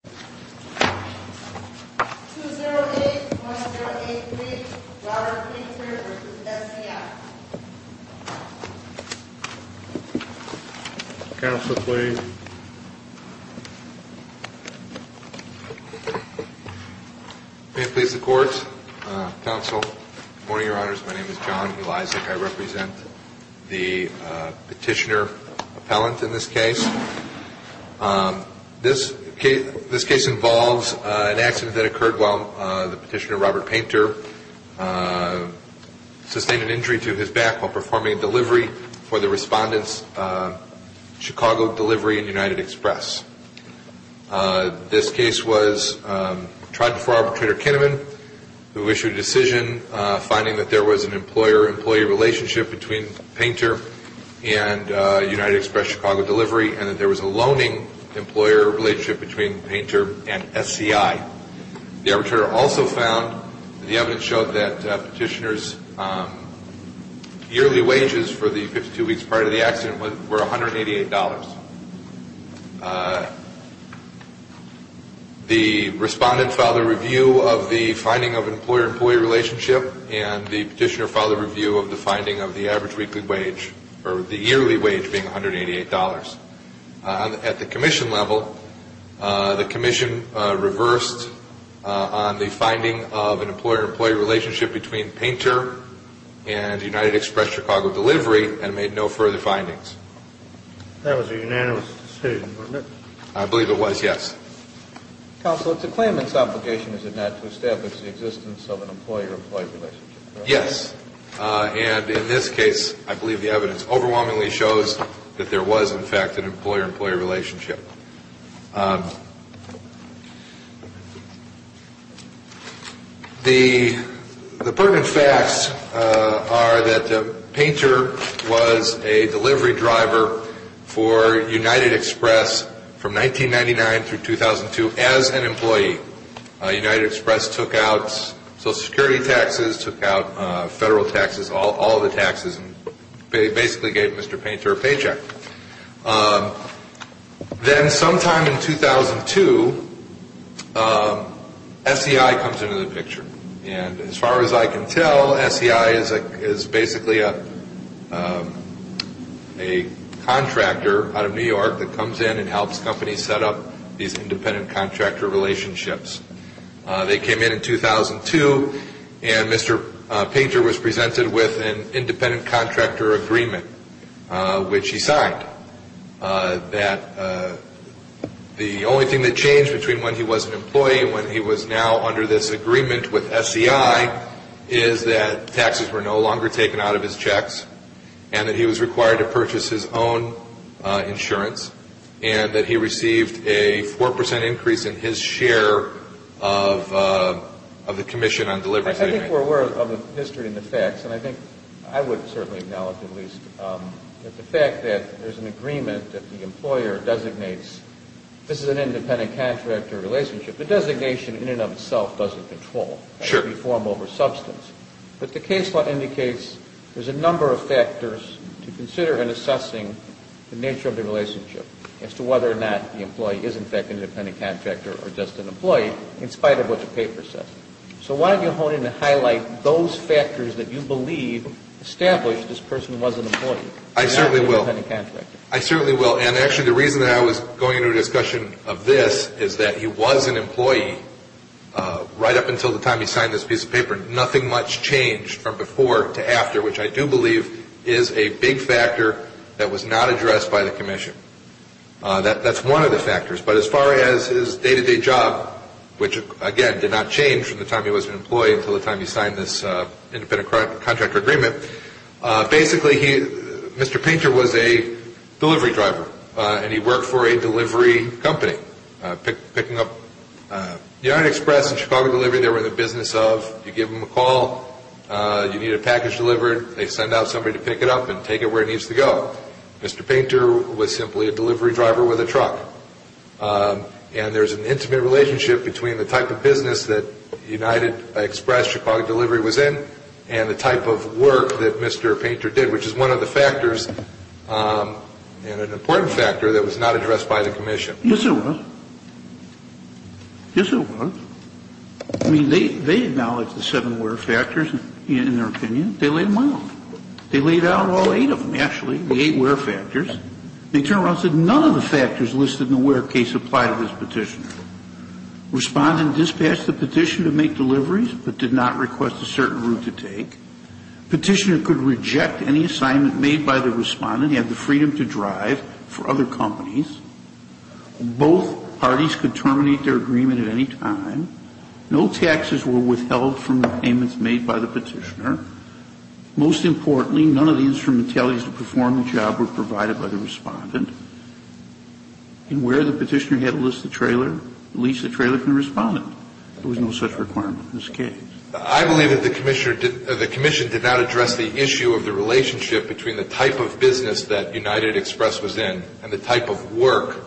208-1083, Robert Pinter v. SCI. Counsel, please. May it please the Court, Counsel, good morning, Your Honors. My name is John Elisak. I represent the petitioner appellant in this case. This case involves an accident that occurred while the petitioner, Robert Pinter, sustained an injury to his back while performing a delivery for the respondents, Chicago Delivery and United Express. This case was tried before Arbitrator Kinnaman, who issued a decision finding that there was an employer-employee relationship between Pinter and United Express Chicago Delivery and that there was a loaning employer relationship between Pinter and SCI. The arbitrator also found, the evidence showed that petitioner's yearly wages for the 52 weeks prior to the accident were $188. The respondent filed a review of the finding of employer-employee relationship and the petitioner filed a review of the finding of the average weekly wage, or the yearly wage being $188. At the commission level, the commission reversed on the finding of an employer-employee relationship between Pinter and United Express Chicago Delivery and made no further findings. That was a unanimous decision, wasn't it? I believe it was, yes. Counsel, it's a claimant's obligation, is it not, to establish the existence of an employer-employee relationship? Yes. And in this case, I believe the evidence overwhelmingly shows that there was, in fact, an employer-employee relationship. The pertinent facts are that Pinter was a delivery driver for United Express from 1999 through 2002 as an employee. United Express took out Social Security taxes, took out federal taxes, all the taxes, and basically gave Mr. Pinter a paycheck. Then sometime in 2002, SCI comes into the picture. As far as I can tell, SCI is basically a contractor out of New York that comes in and helps companies set up these independent contractor relationships. They came in in 2002, and Mr. Pinter was presented with an independent contractor agreement, which he signed. The only thing that changed between when he was an employee and when he was now under this agreement with SCI is that taxes were no longer taken out of his checks and that he was required to purchase his own insurance and that he received a 4 percent increase in his share of the commission on delivery. I think we're aware of the history and the facts, and I think I would certainly acknowledge, at least, that the fact that there's an agreement that the employer designates this is an independent contractor relationship, the designation in and of itself doesn't control. Sure. We form over substance. But the case law indicates there's a number of factors to consider in assessing the nature of the relationship as to whether or not the employee is, in fact, an independent contractor or just an employee in spite of what the paper says. So why don't you hone in and highlight those factors that you believe established this person was an employee. I certainly will. And not an independent contractor. I certainly will. And actually, the reason that I was going into a discussion of this is that he was an employee right up until the time he signed this piece of paper. Nothing much changed from before to after, which I do believe is a big factor that was not addressed by the commission. That's one of the factors. But as far as his day-to-day job, which, again, did not change from the time he was an employee until the time he signed this independent contractor agreement. Basically, Mr. Painter was a delivery driver, and he worked for a delivery company picking up United Express and Chicago Delivery. They were in the business of you give them a call, you need a package delivered, they send out somebody to pick it up and take it where it needs to go. Mr. Painter was simply a delivery driver with a truck. And there's an intimate relationship between the type of business that United Express, Chicago Delivery was in, and the type of work that Mr. Painter did, which is one of the factors and an important factor that was not addressed by the commission. Yes, it was. Yes, it was. I mean, they acknowledged the seven work factors in their opinion. They laid them out. They laid out all eight of them, actually, the eight work factors. They turned around and said none of the factors listed in the work case apply to this petitioner. Respondent dispatched the petitioner to make deliveries, but did not request a certain route to take. Petitioner could reject any assignment made by the respondent. He had the freedom to drive for other companies. Both parties could terminate their agreement at any time. No taxes were withheld from the payments made by the petitioner. Most importantly, none of the instrumentalities to perform the job were provided by the respondent. And where the petitioner had to list the trailer, at least the trailer from the respondent. There was no such requirement in this case. I believe that the commission did not address the issue of the relationship between the type of business that United Express was in and the type of work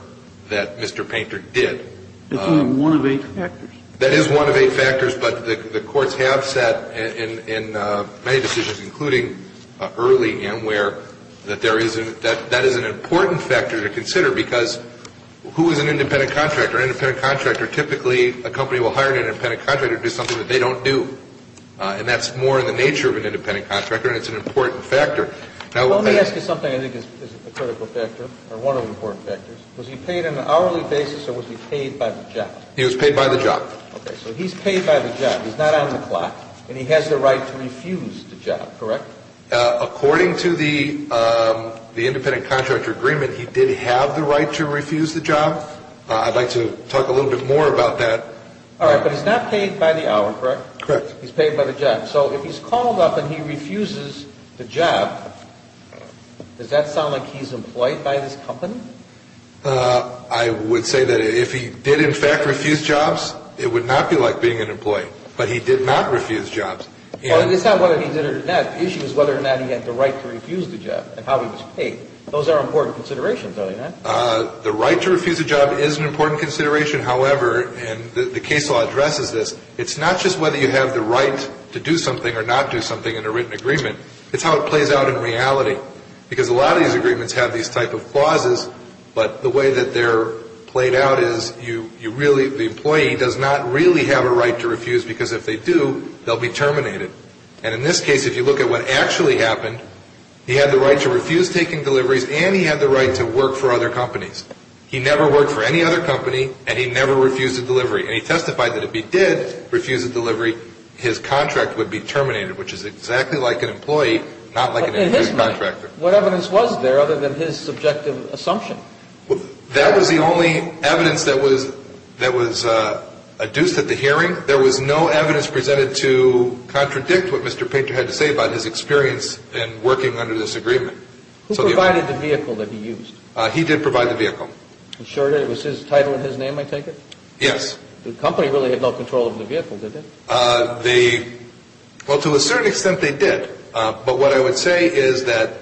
that Mr. Painter did. It's only one of eight factors. That is one of eight factors, but the courts have said in many decisions, including early AMWARE, that that is an important factor to consider, because who is an independent contractor? An independent contractor typically, a company will hire an independent contractor to do something that they don't do. And that's more in the nature of an independent contractor, and it's an important factor. Let me ask you something I think is a critical factor, or one of the important factors. Was he paid on an hourly basis, or was he paid by the job? He was paid by the job. Okay, so he's paid by the job. He's not on the clock, and he has the right to refuse the job, correct? According to the independent contractor agreement, he did have the right to refuse the job. I'd like to talk a little bit more about that. All right, but he's not paid by the hour, correct? Correct. He's paid by the job. So if he's called up and he refuses the job, does that sound like he's employed by this company? I would say that if he did, in fact, refuse jobs, it would not be like being an employee. But he did not refuse jobs. Well, it's not whether he did or not. The issue is whether or not he had the right to refuse the job and how he was paid. Those are important considerations, aren't they, Matt? The right to refuse a job is an important consideration. However, and the case law addresses this, it's not just whether you have the right to do something or not do something in a written agreement. It's how it plays out in reality. Because a lot of these agreements have these type of clauses, but the way that they're played out is you really, the employee does not really have a right to refuse because if they do, they'll be terminated. And in this case, if you look at what actually happened, he had the right to refuse taking deliveries and he had the right to work for other companies. He never worked for any other company and he never refused a delivery. And he testified that if he did refuse a delivery, his contract would be terminated, which is exactly like an employee, not like an employee contractor. In his mind, what evidence was there other than his subjective assumption? That was the only evidence that was adduced at the hearing. There was no evidence presented to contradict what Mr. Painter had to say about his experience in working under this agreement. Who provided the vehicle that he used? He did provide the vehicle. Was his title and his name, I take it? Yes. The company really had no control over the vehicle, did they? Well, to a certain extent they did. But what I would say is that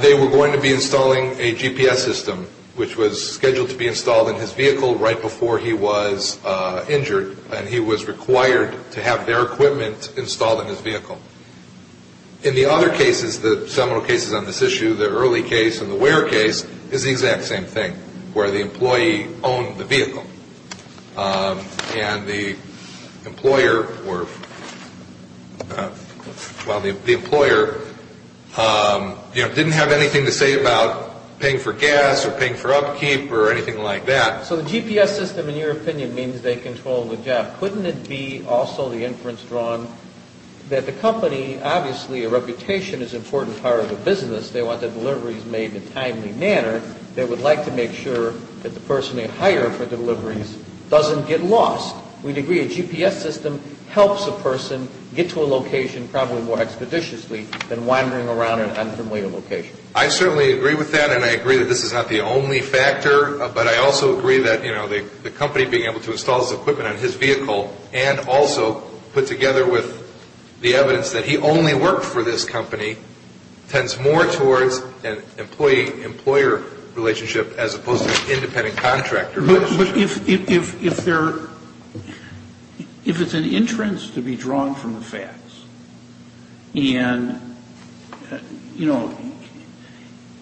they were going to be installing a GPS system, which was scheduled to be installed in his vehicle right before he was injured and he was required to have their equipment installed in his vehicle. In the other cases, the seminal cases on this issue, the early case and the Ware case, is the exact same thing where the employee owned the vehicle and the employer didn't have anything to say about paying for gas or paying for upkeep or anything like that. So the GPS system, in your opinion, means they control the job. Couldn't it be also the inference drawn that the company, obviously a reputation is an important part of the business, they want the deliveries made in a timely manner. They would like to make sure that the person they hire for deliveries doesn't get lost. We'd agree a GPS system helps a person get to a location probably more expeditiously than wandering around an unfamiliar location. I certainly agree with that and I agree that this is not the only factor, but I also agree that the company being able to install his equipment on his vehicle and also put together with the evidence that he only worked for this company tends more towards an employee-employer relationship as opposed to an independent contractor relationship. But if it's an inference to be drawn from the facts and, you know,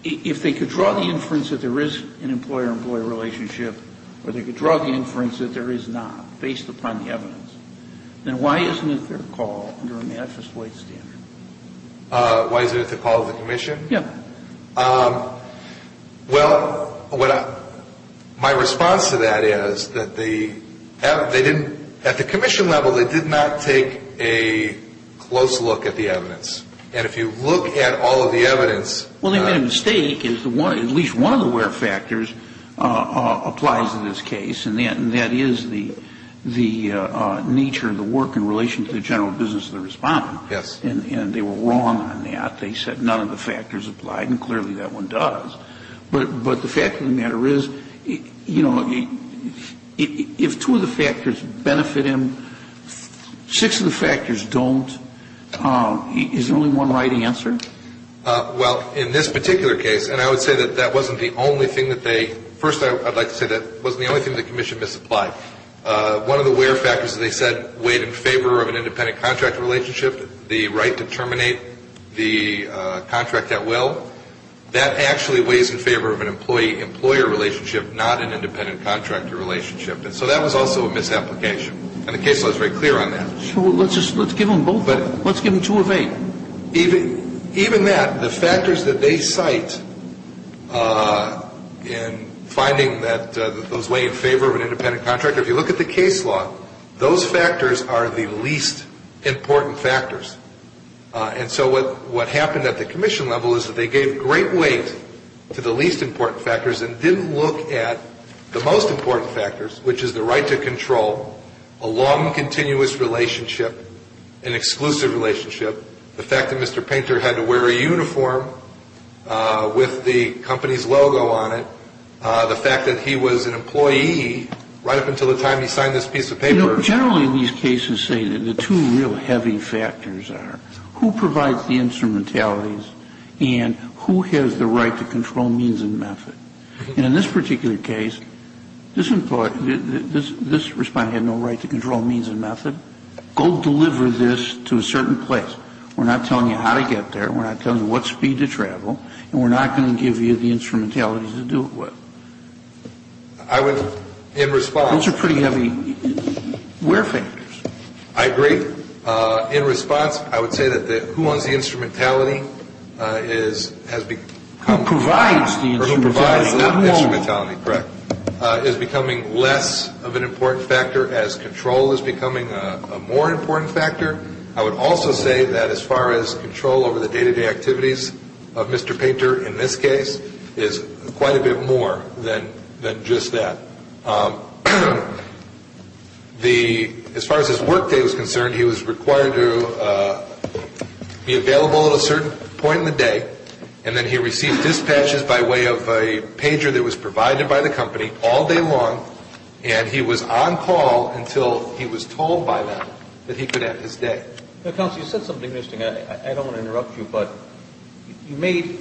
if they could draw the inference that there is an employer-employer relationship or they could draw the inference that there is not based upon the evidence, then why isn't it their call under a mattress weight standard? Why isn't it the call of the commission? Yeah. Well, my response to that is that they didn't, at the commission level, they did not take a close look at the evidence. And if you look at all of the evidence. Well, they made a mistake is at least one of the where factors applies in this case and that is the nature of the work in relation to the general business of the respondent. Yes. And they were wrong on that. They said none of the factors applied and clearly that one does. But the fact of the matter is, you know, if two of the factors benefit him, six of the factors don't, is there only one right answer? Well, in this particular case, and I would say that that wasn't the only thing that they, first I'd like to say that wasn't the only thing that the commission misapplied. One of the where factors they said weighed in favor of an independent contractor relationship, the right to terminate the contract at will. That actually weighs in favor of an employee-employer relationship, not an independent contractor relationship. And so that was also a misapplication. And the case law is very clear on that. Well, let's give them both. Let's give them two of eight. Even that, the factors that they cite in finding that those weigh in favor of an independent contractor, if you look at the case law, those factors are the least important factors. And so what happened at the commission level is that they gave great weight to the least important factors and didn't look at the most important factors, which is the right to control, a long, continuous relationship, an exclusive relationship, the fact that Mr. Painter had to wear a uniform with the company's logo on it, the fact that he was an employee right up until the time he signed this piece of paper. Generally, these cases say that the two real heavy factors are who provides the instrumentalities and who has the right to control means and method. And in this particular case, this employee, this respondent had no right to control means and method. Go deliver this to a certain place. We're not telling you how to get there. We're not telling you what speed to travel. And we're not going to give you the instrumentalities to do it with. I would, in response. Those are pretty heavy where factors. I agree. In response, I would say that who owns the instrumentality is, has become. Who provides the instrumentality. Who provides the instrumentality, correct, is becoming less of an important factor as control is becoming a more important factor. I would also say that as far as control over the day-to-day activities of Mr. Painter in this case, is quite a bit more than just that. As far as his work day was concerned, he was required to be available at a certain point in the day, and then he received dispatches by way of a pager that was provided by the company all day long, and he was on call until he was told by them that he could end his day. Counsel, you said something interesting. I don't want to interrupt you, but you made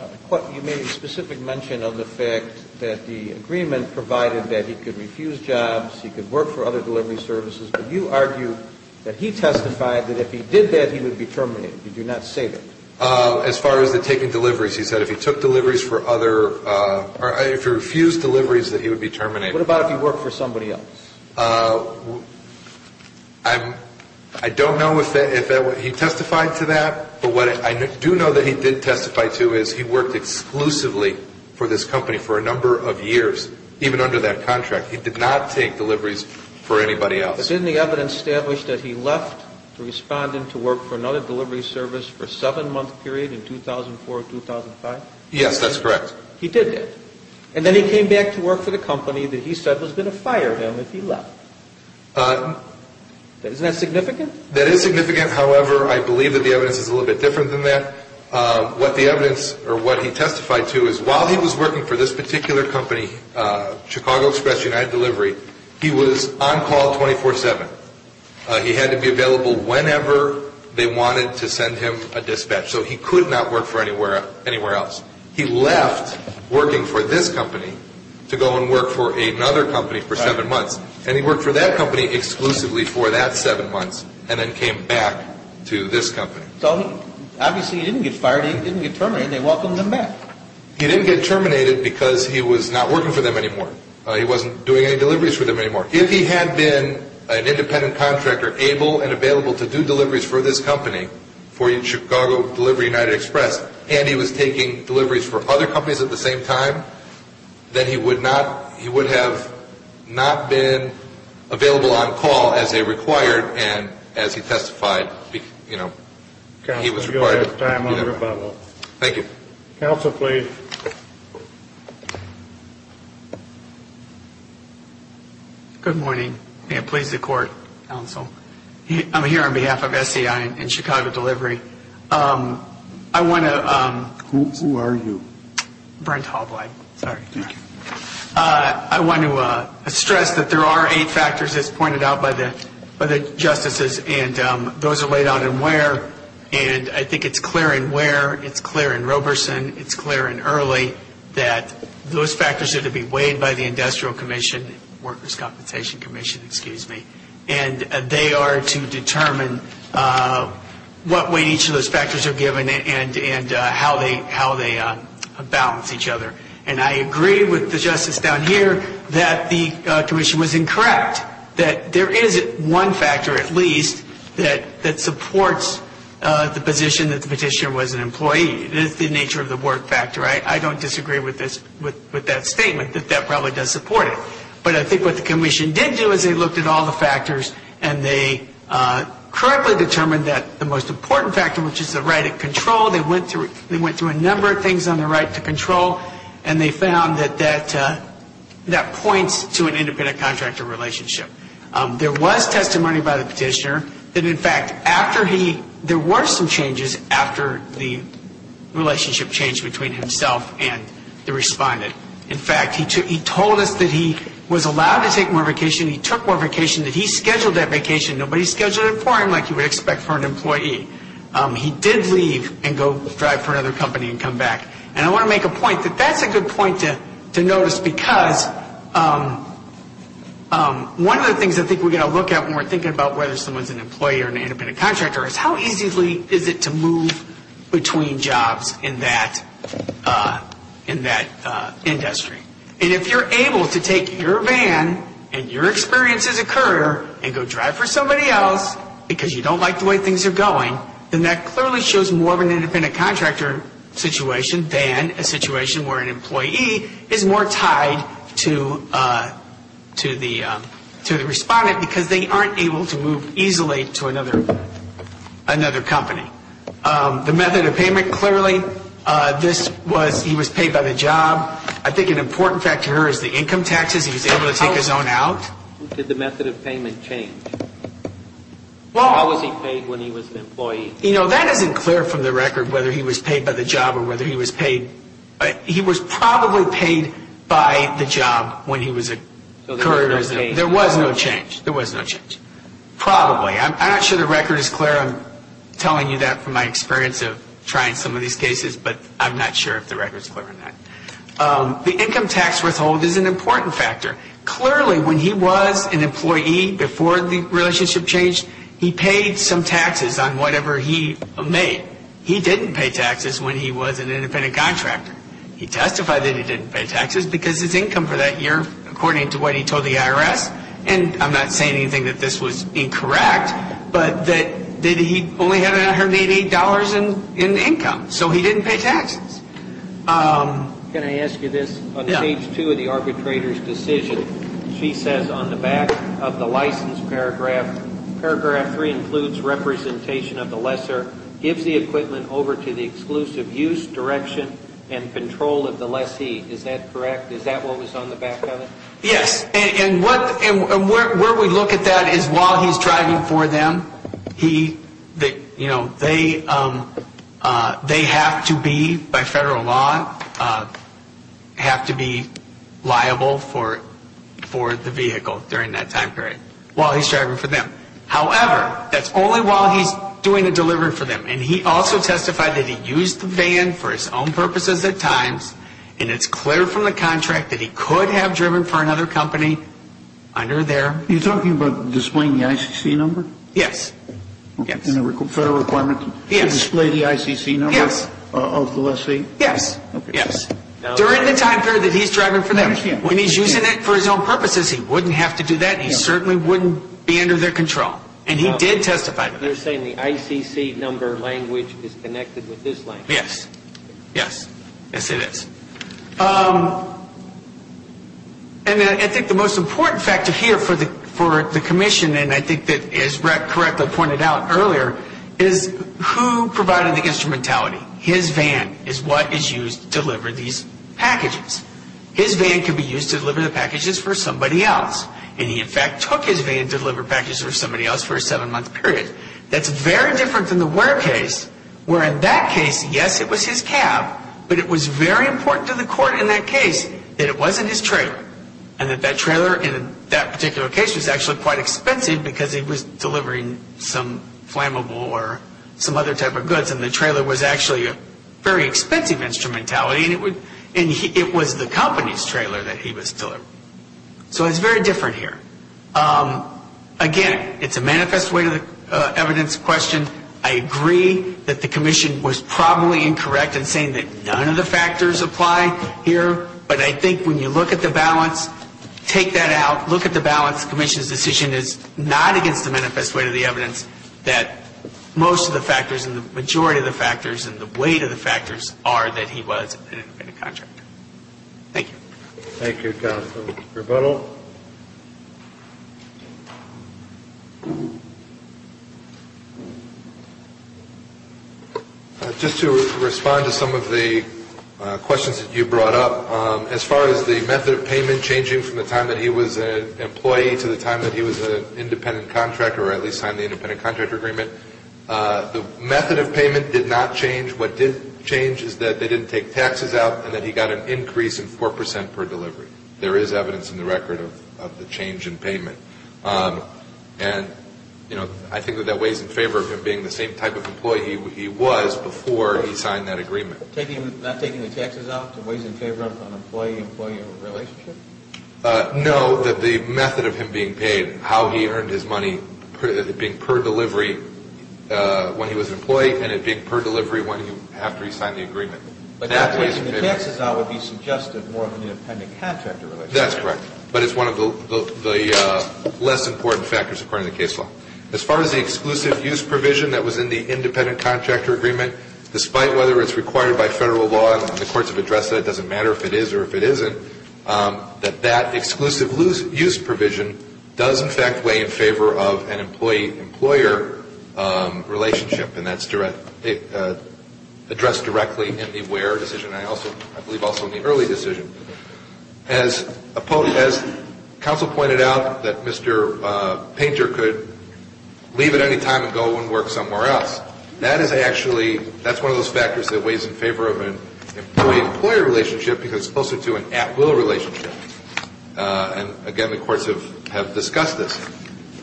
a specific mention of the fact that the agreement provided that he could refuse jobs, he could work for other delivery services, but you argue that he testified that if he did that, he would be terminated. Did you not say that? As far as the taking deliveries, he said if he took deliveries for other, or if he refused deliveries that he would be terminated. What about if he worked for somebody else? I don't know if he testified to that, but what I do know that he did testify to is he worked exclusively for this company for a number of years, even under that contract. He did not take deliveries for anybody else. But isn't the evidence established that he left to respond and to work for another delivery service for a seven-month period in 2004 or 2005? Yes, that's correct. He did that. And then he came back to work for the company that he said was going to fire him if he left. Isn't that significant? That is significant. However, I believe that the evidence is a little bit different than that. What the evidence, or what he testified to, is while he was working for this particular company, Chicago Express, United Delivery, he was on call 24-7. He had to be available whenever they wanted to send him a dispatch, so he could not work for anywhere else. He left working for this company to go and work for another company for seven months, and he worked for that company exclusively for that seven months, and then came back to this company. So obviously he didn't get fired, he didn't get terminated. They welcomed him back. He didn't get terminated because he was not working for them anymore. He wasn't doing any deliveries for them anymore. If he had been an independent contractor, able and available to do deliveries for this company, for Chicago Delivery, United Express, and he was taking deliveries for other companies at the same time, then he would have not been available on call as they required, and as he testified, he was required to be available. Thank you. Counsel, please. Good morning. May it please the Court, Counsel. I'm here on behalf of SEI and Chicago Delivery. I want to... Who are you? Brent Hovland. Sorry. Thank you. I want to stress that there are eight factors as pointed out by the justices, and those are laid out in where, and I think it's clear in where, it's clear in Roberson, it's clear in Early that those factors are to be weighed by the Industrial Commission, Workers' Compensation Commission, excuse me, and they are to determine what weight each of those factors are given and how they balance each other. And I agree with the justice down here that the commission was incorrect, that there is one factor at least that supports the position that the petitioner was an employee. It is the nature of the work factor. I don't disagree with that statement, that that probably does support it. But I think what the commission did do is they looked at all the factors and they correctly determined that the most important factor, which is the right of control, they went through a number of things on the right to control, and they found that that points to an independent contractor relationship. There was testimony by the petitioner that, in fact, there were some changes after the relationship changed between himself and the respondent. In fact, he told us that he was allowed to take more vacation, he took more vacation, that he scheduled that vacation, nobody scheduled it for him like you would expect for an employee. He did leave and go drive for another company and come back. And I want to make a point that that's a good point to notice because one of the things I think we've got to look at when we're thinking about whether someone's an employee or an independent contractor is how easily is it to move between jobs in that industry. And if you're able to take your van and your experience as a courier and go drive for somebody else because you don't like the way things are going, then that clearly shows more of an independent contractor situation than a situation where an employee is more tied to the respondent because they aren't able to move easily to another company. The method of payment, clearly, this was he was paid by the job. I think an important factor here is the income taxes. He was able to take his own out. Did the method of payment change? How was he paid when he was an employee? That isn't clear from the record whether he was paid by the job or whether he was paid. He was probably paid by the job when he was a courier. So there was no change? There was no change. There was no change. Probably. I'm not sure the record is clear. I'm telling you that from my experience of trying some of these cases, but I'm not sure if the record is clear on that. The income tax withhold is an important factor. Clearly, when he was an employee before the relationship changed, he paid some taxes on whatever he made. He didn't pay taxes when he was an independent contractor. He testified that he didn't pay taxes because his income for that year, according to what he told the IRS, and I'm not saying anything that this was incorrect, but that he only had $188 in income, so he didn't pay taxes. Can I ask you this? Yeah. On page 2 of the arbitrator's decision, she says on the back of the license paragraph, paragraph 3 includes representation of the lesser, gives the equipment over to the exclusive use, direction, and control of the lessee. Is that correct? Is that what was on the back of it? And where we look at that is while he's driving for them, they have to be, by federal law, have to be liable for the vehicle during that time period, while he's driving for them. However, that's only while he's doing a delivery for them, and he also testified that he used the van for his own purposes at times, and it's clear from the contract that he could have driven for another company under their... Are you talking about displaying the ICC number? Yes. Federal requirement to display the ICC number of the lessee? Yes. During the time period that he's driving for them... I understand. When he's using it for his own purposes, he wouldn't have to do that. He certainly wouldn't be under their control, and he did testify to that. They're saying the ICC number language is connected with this language. Yes. Yes, it is. And I think the most important factor here for the commission, and I think that is correctly pointed out earlier, is who provided the instrumentality. His van is what is used to deliver these packages. His van can be used to deliver the packages for somebody else, and he in fact took his van to deliver packages for somebody else for a seven-month period. That's very different than the Ware case, where in that case, yes, it was his cab, but it was very important to the court in that case that it wasn't his trailer, and that that trailer in that particular case was actually quite expensive because he was delivering some flammable or some other type of goods, and the trailer was actually a very expensive instrumentality, and it was the company's trailer that he was delivering. So it's very different here. Again, it's a manifest way to the evidence question. I agree that the commission was probably incorrect in saying that none of the factors apply here, but I think when you look at the balance, take that out, look at the balance. The commission's decision is not against the manifest way to the evidence that most of the factors and the majority of the factors and the weight of the factors are that he was an independent contractor. Thank you. Thank you, Counsel. Rebuttal. Just to respond to some of the questions that you brought up, as far as the method of payment changing from the time that he was an employee to the time that he was an independent contractor, or at least signed the independent contractor agreement, the method of payment did not change. What did change is that they didn't take taxes out and that he got an increase in 4% per delivery. There is evidence in the record of the change in payment. And I think that that weighs in favor of him being the same type of employee he was before he signed that agreement. Not taking the taxes out weighs in favor of an employee-employee relationship? No, that the method of him being paid, how he earned his money, it being per delivery when he was an employee and it being per delivery after he signed the agreement. But not taking the taxes out would be suggested more of an independent contractor relationship. That's correct. But it's one of the less important factors according to the case law. As far as the exclusive use provision that was in the independent contractor agreement, despite whether it's required by federal law, and the courts have addressed that, it doesn't matter if it is or if it isn't, that that exclusive use provision does in fact weigh in favor of an employee-employer relationship, and that's addressed directly in the where decision and I believe also in the early decision. As counsel pointed out that Mr. Painter could leave at any time and go and work somewhere else, that is actually, that's one of those factors that weighs in favor of an employee-employer relationship because it's closer to an at-will relationship. And again, the courts have discussed this.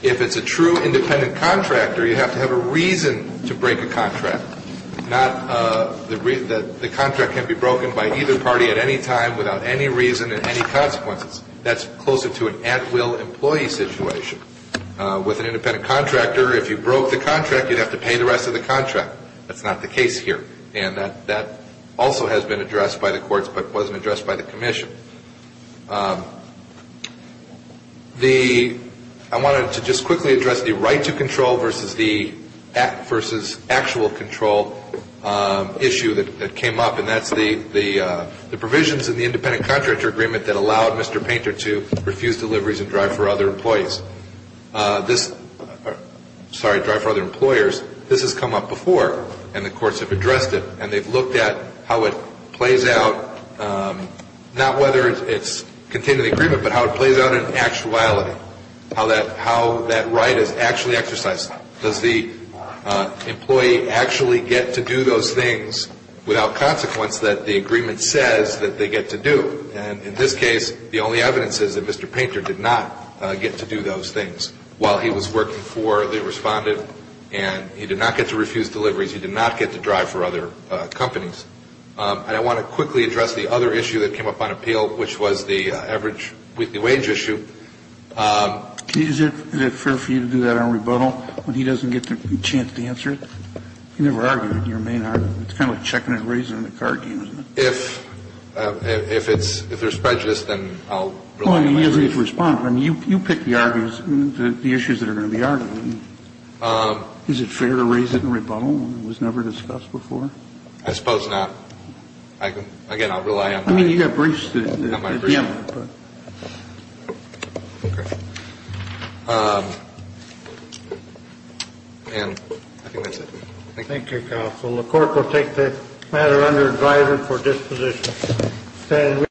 If it's a true independent contractor, you have to have a reason to break a contract, not that the contract can be broken by either party at any time without any reason and any consequences. That's closer to an at-will employee situation. With an independent contractor, if you broke the contract, you'd have to pay the rest of the contract. That's not the case here. And that also has been addressed by the courts but wasn't addressed by the commission. I wanted to just quickly address the right to control versus actual control issue that came up, and that's the provisions in the independent contractor agreement that allowed Mr. Painter to refuse deliveries and drive for other employees. Sorry, drive for other employers. This has come up before and the courts have addressed it and they've looked at how it plays out, not whether it's contained in the agreement but how it plays out in actuality, how that right is actually exercised. Does the employee actually get to do those things without consequence that the agreement says that they get to do? And in this case, the only evidence is that Mr. Painter did not get to do those things while he was working for the respondent and he did not get to refuse deliveries. He did not get to drive for other companies. And I want to quickly address the other issue that came up on appeal which was the average with the wage issue. Is it fair for you to do that on rebuttal when he doesn't get the chance to answer it? You never argue it in your main argument. It's kind of like checking and raising the card game, isn't it? If there's prejudice, then I'll rely on my argument. You pick the arguments, the issues that are going to be argued. Is it fair to raise it in rebuttal when it was never discussed before? I suppose not. Again, I'll rely on my argument. I mean, you got briefs to deem. Okay. And I think that's it. Thank you. Thank you, counsel. The Court will take the matter under advisory for disposition.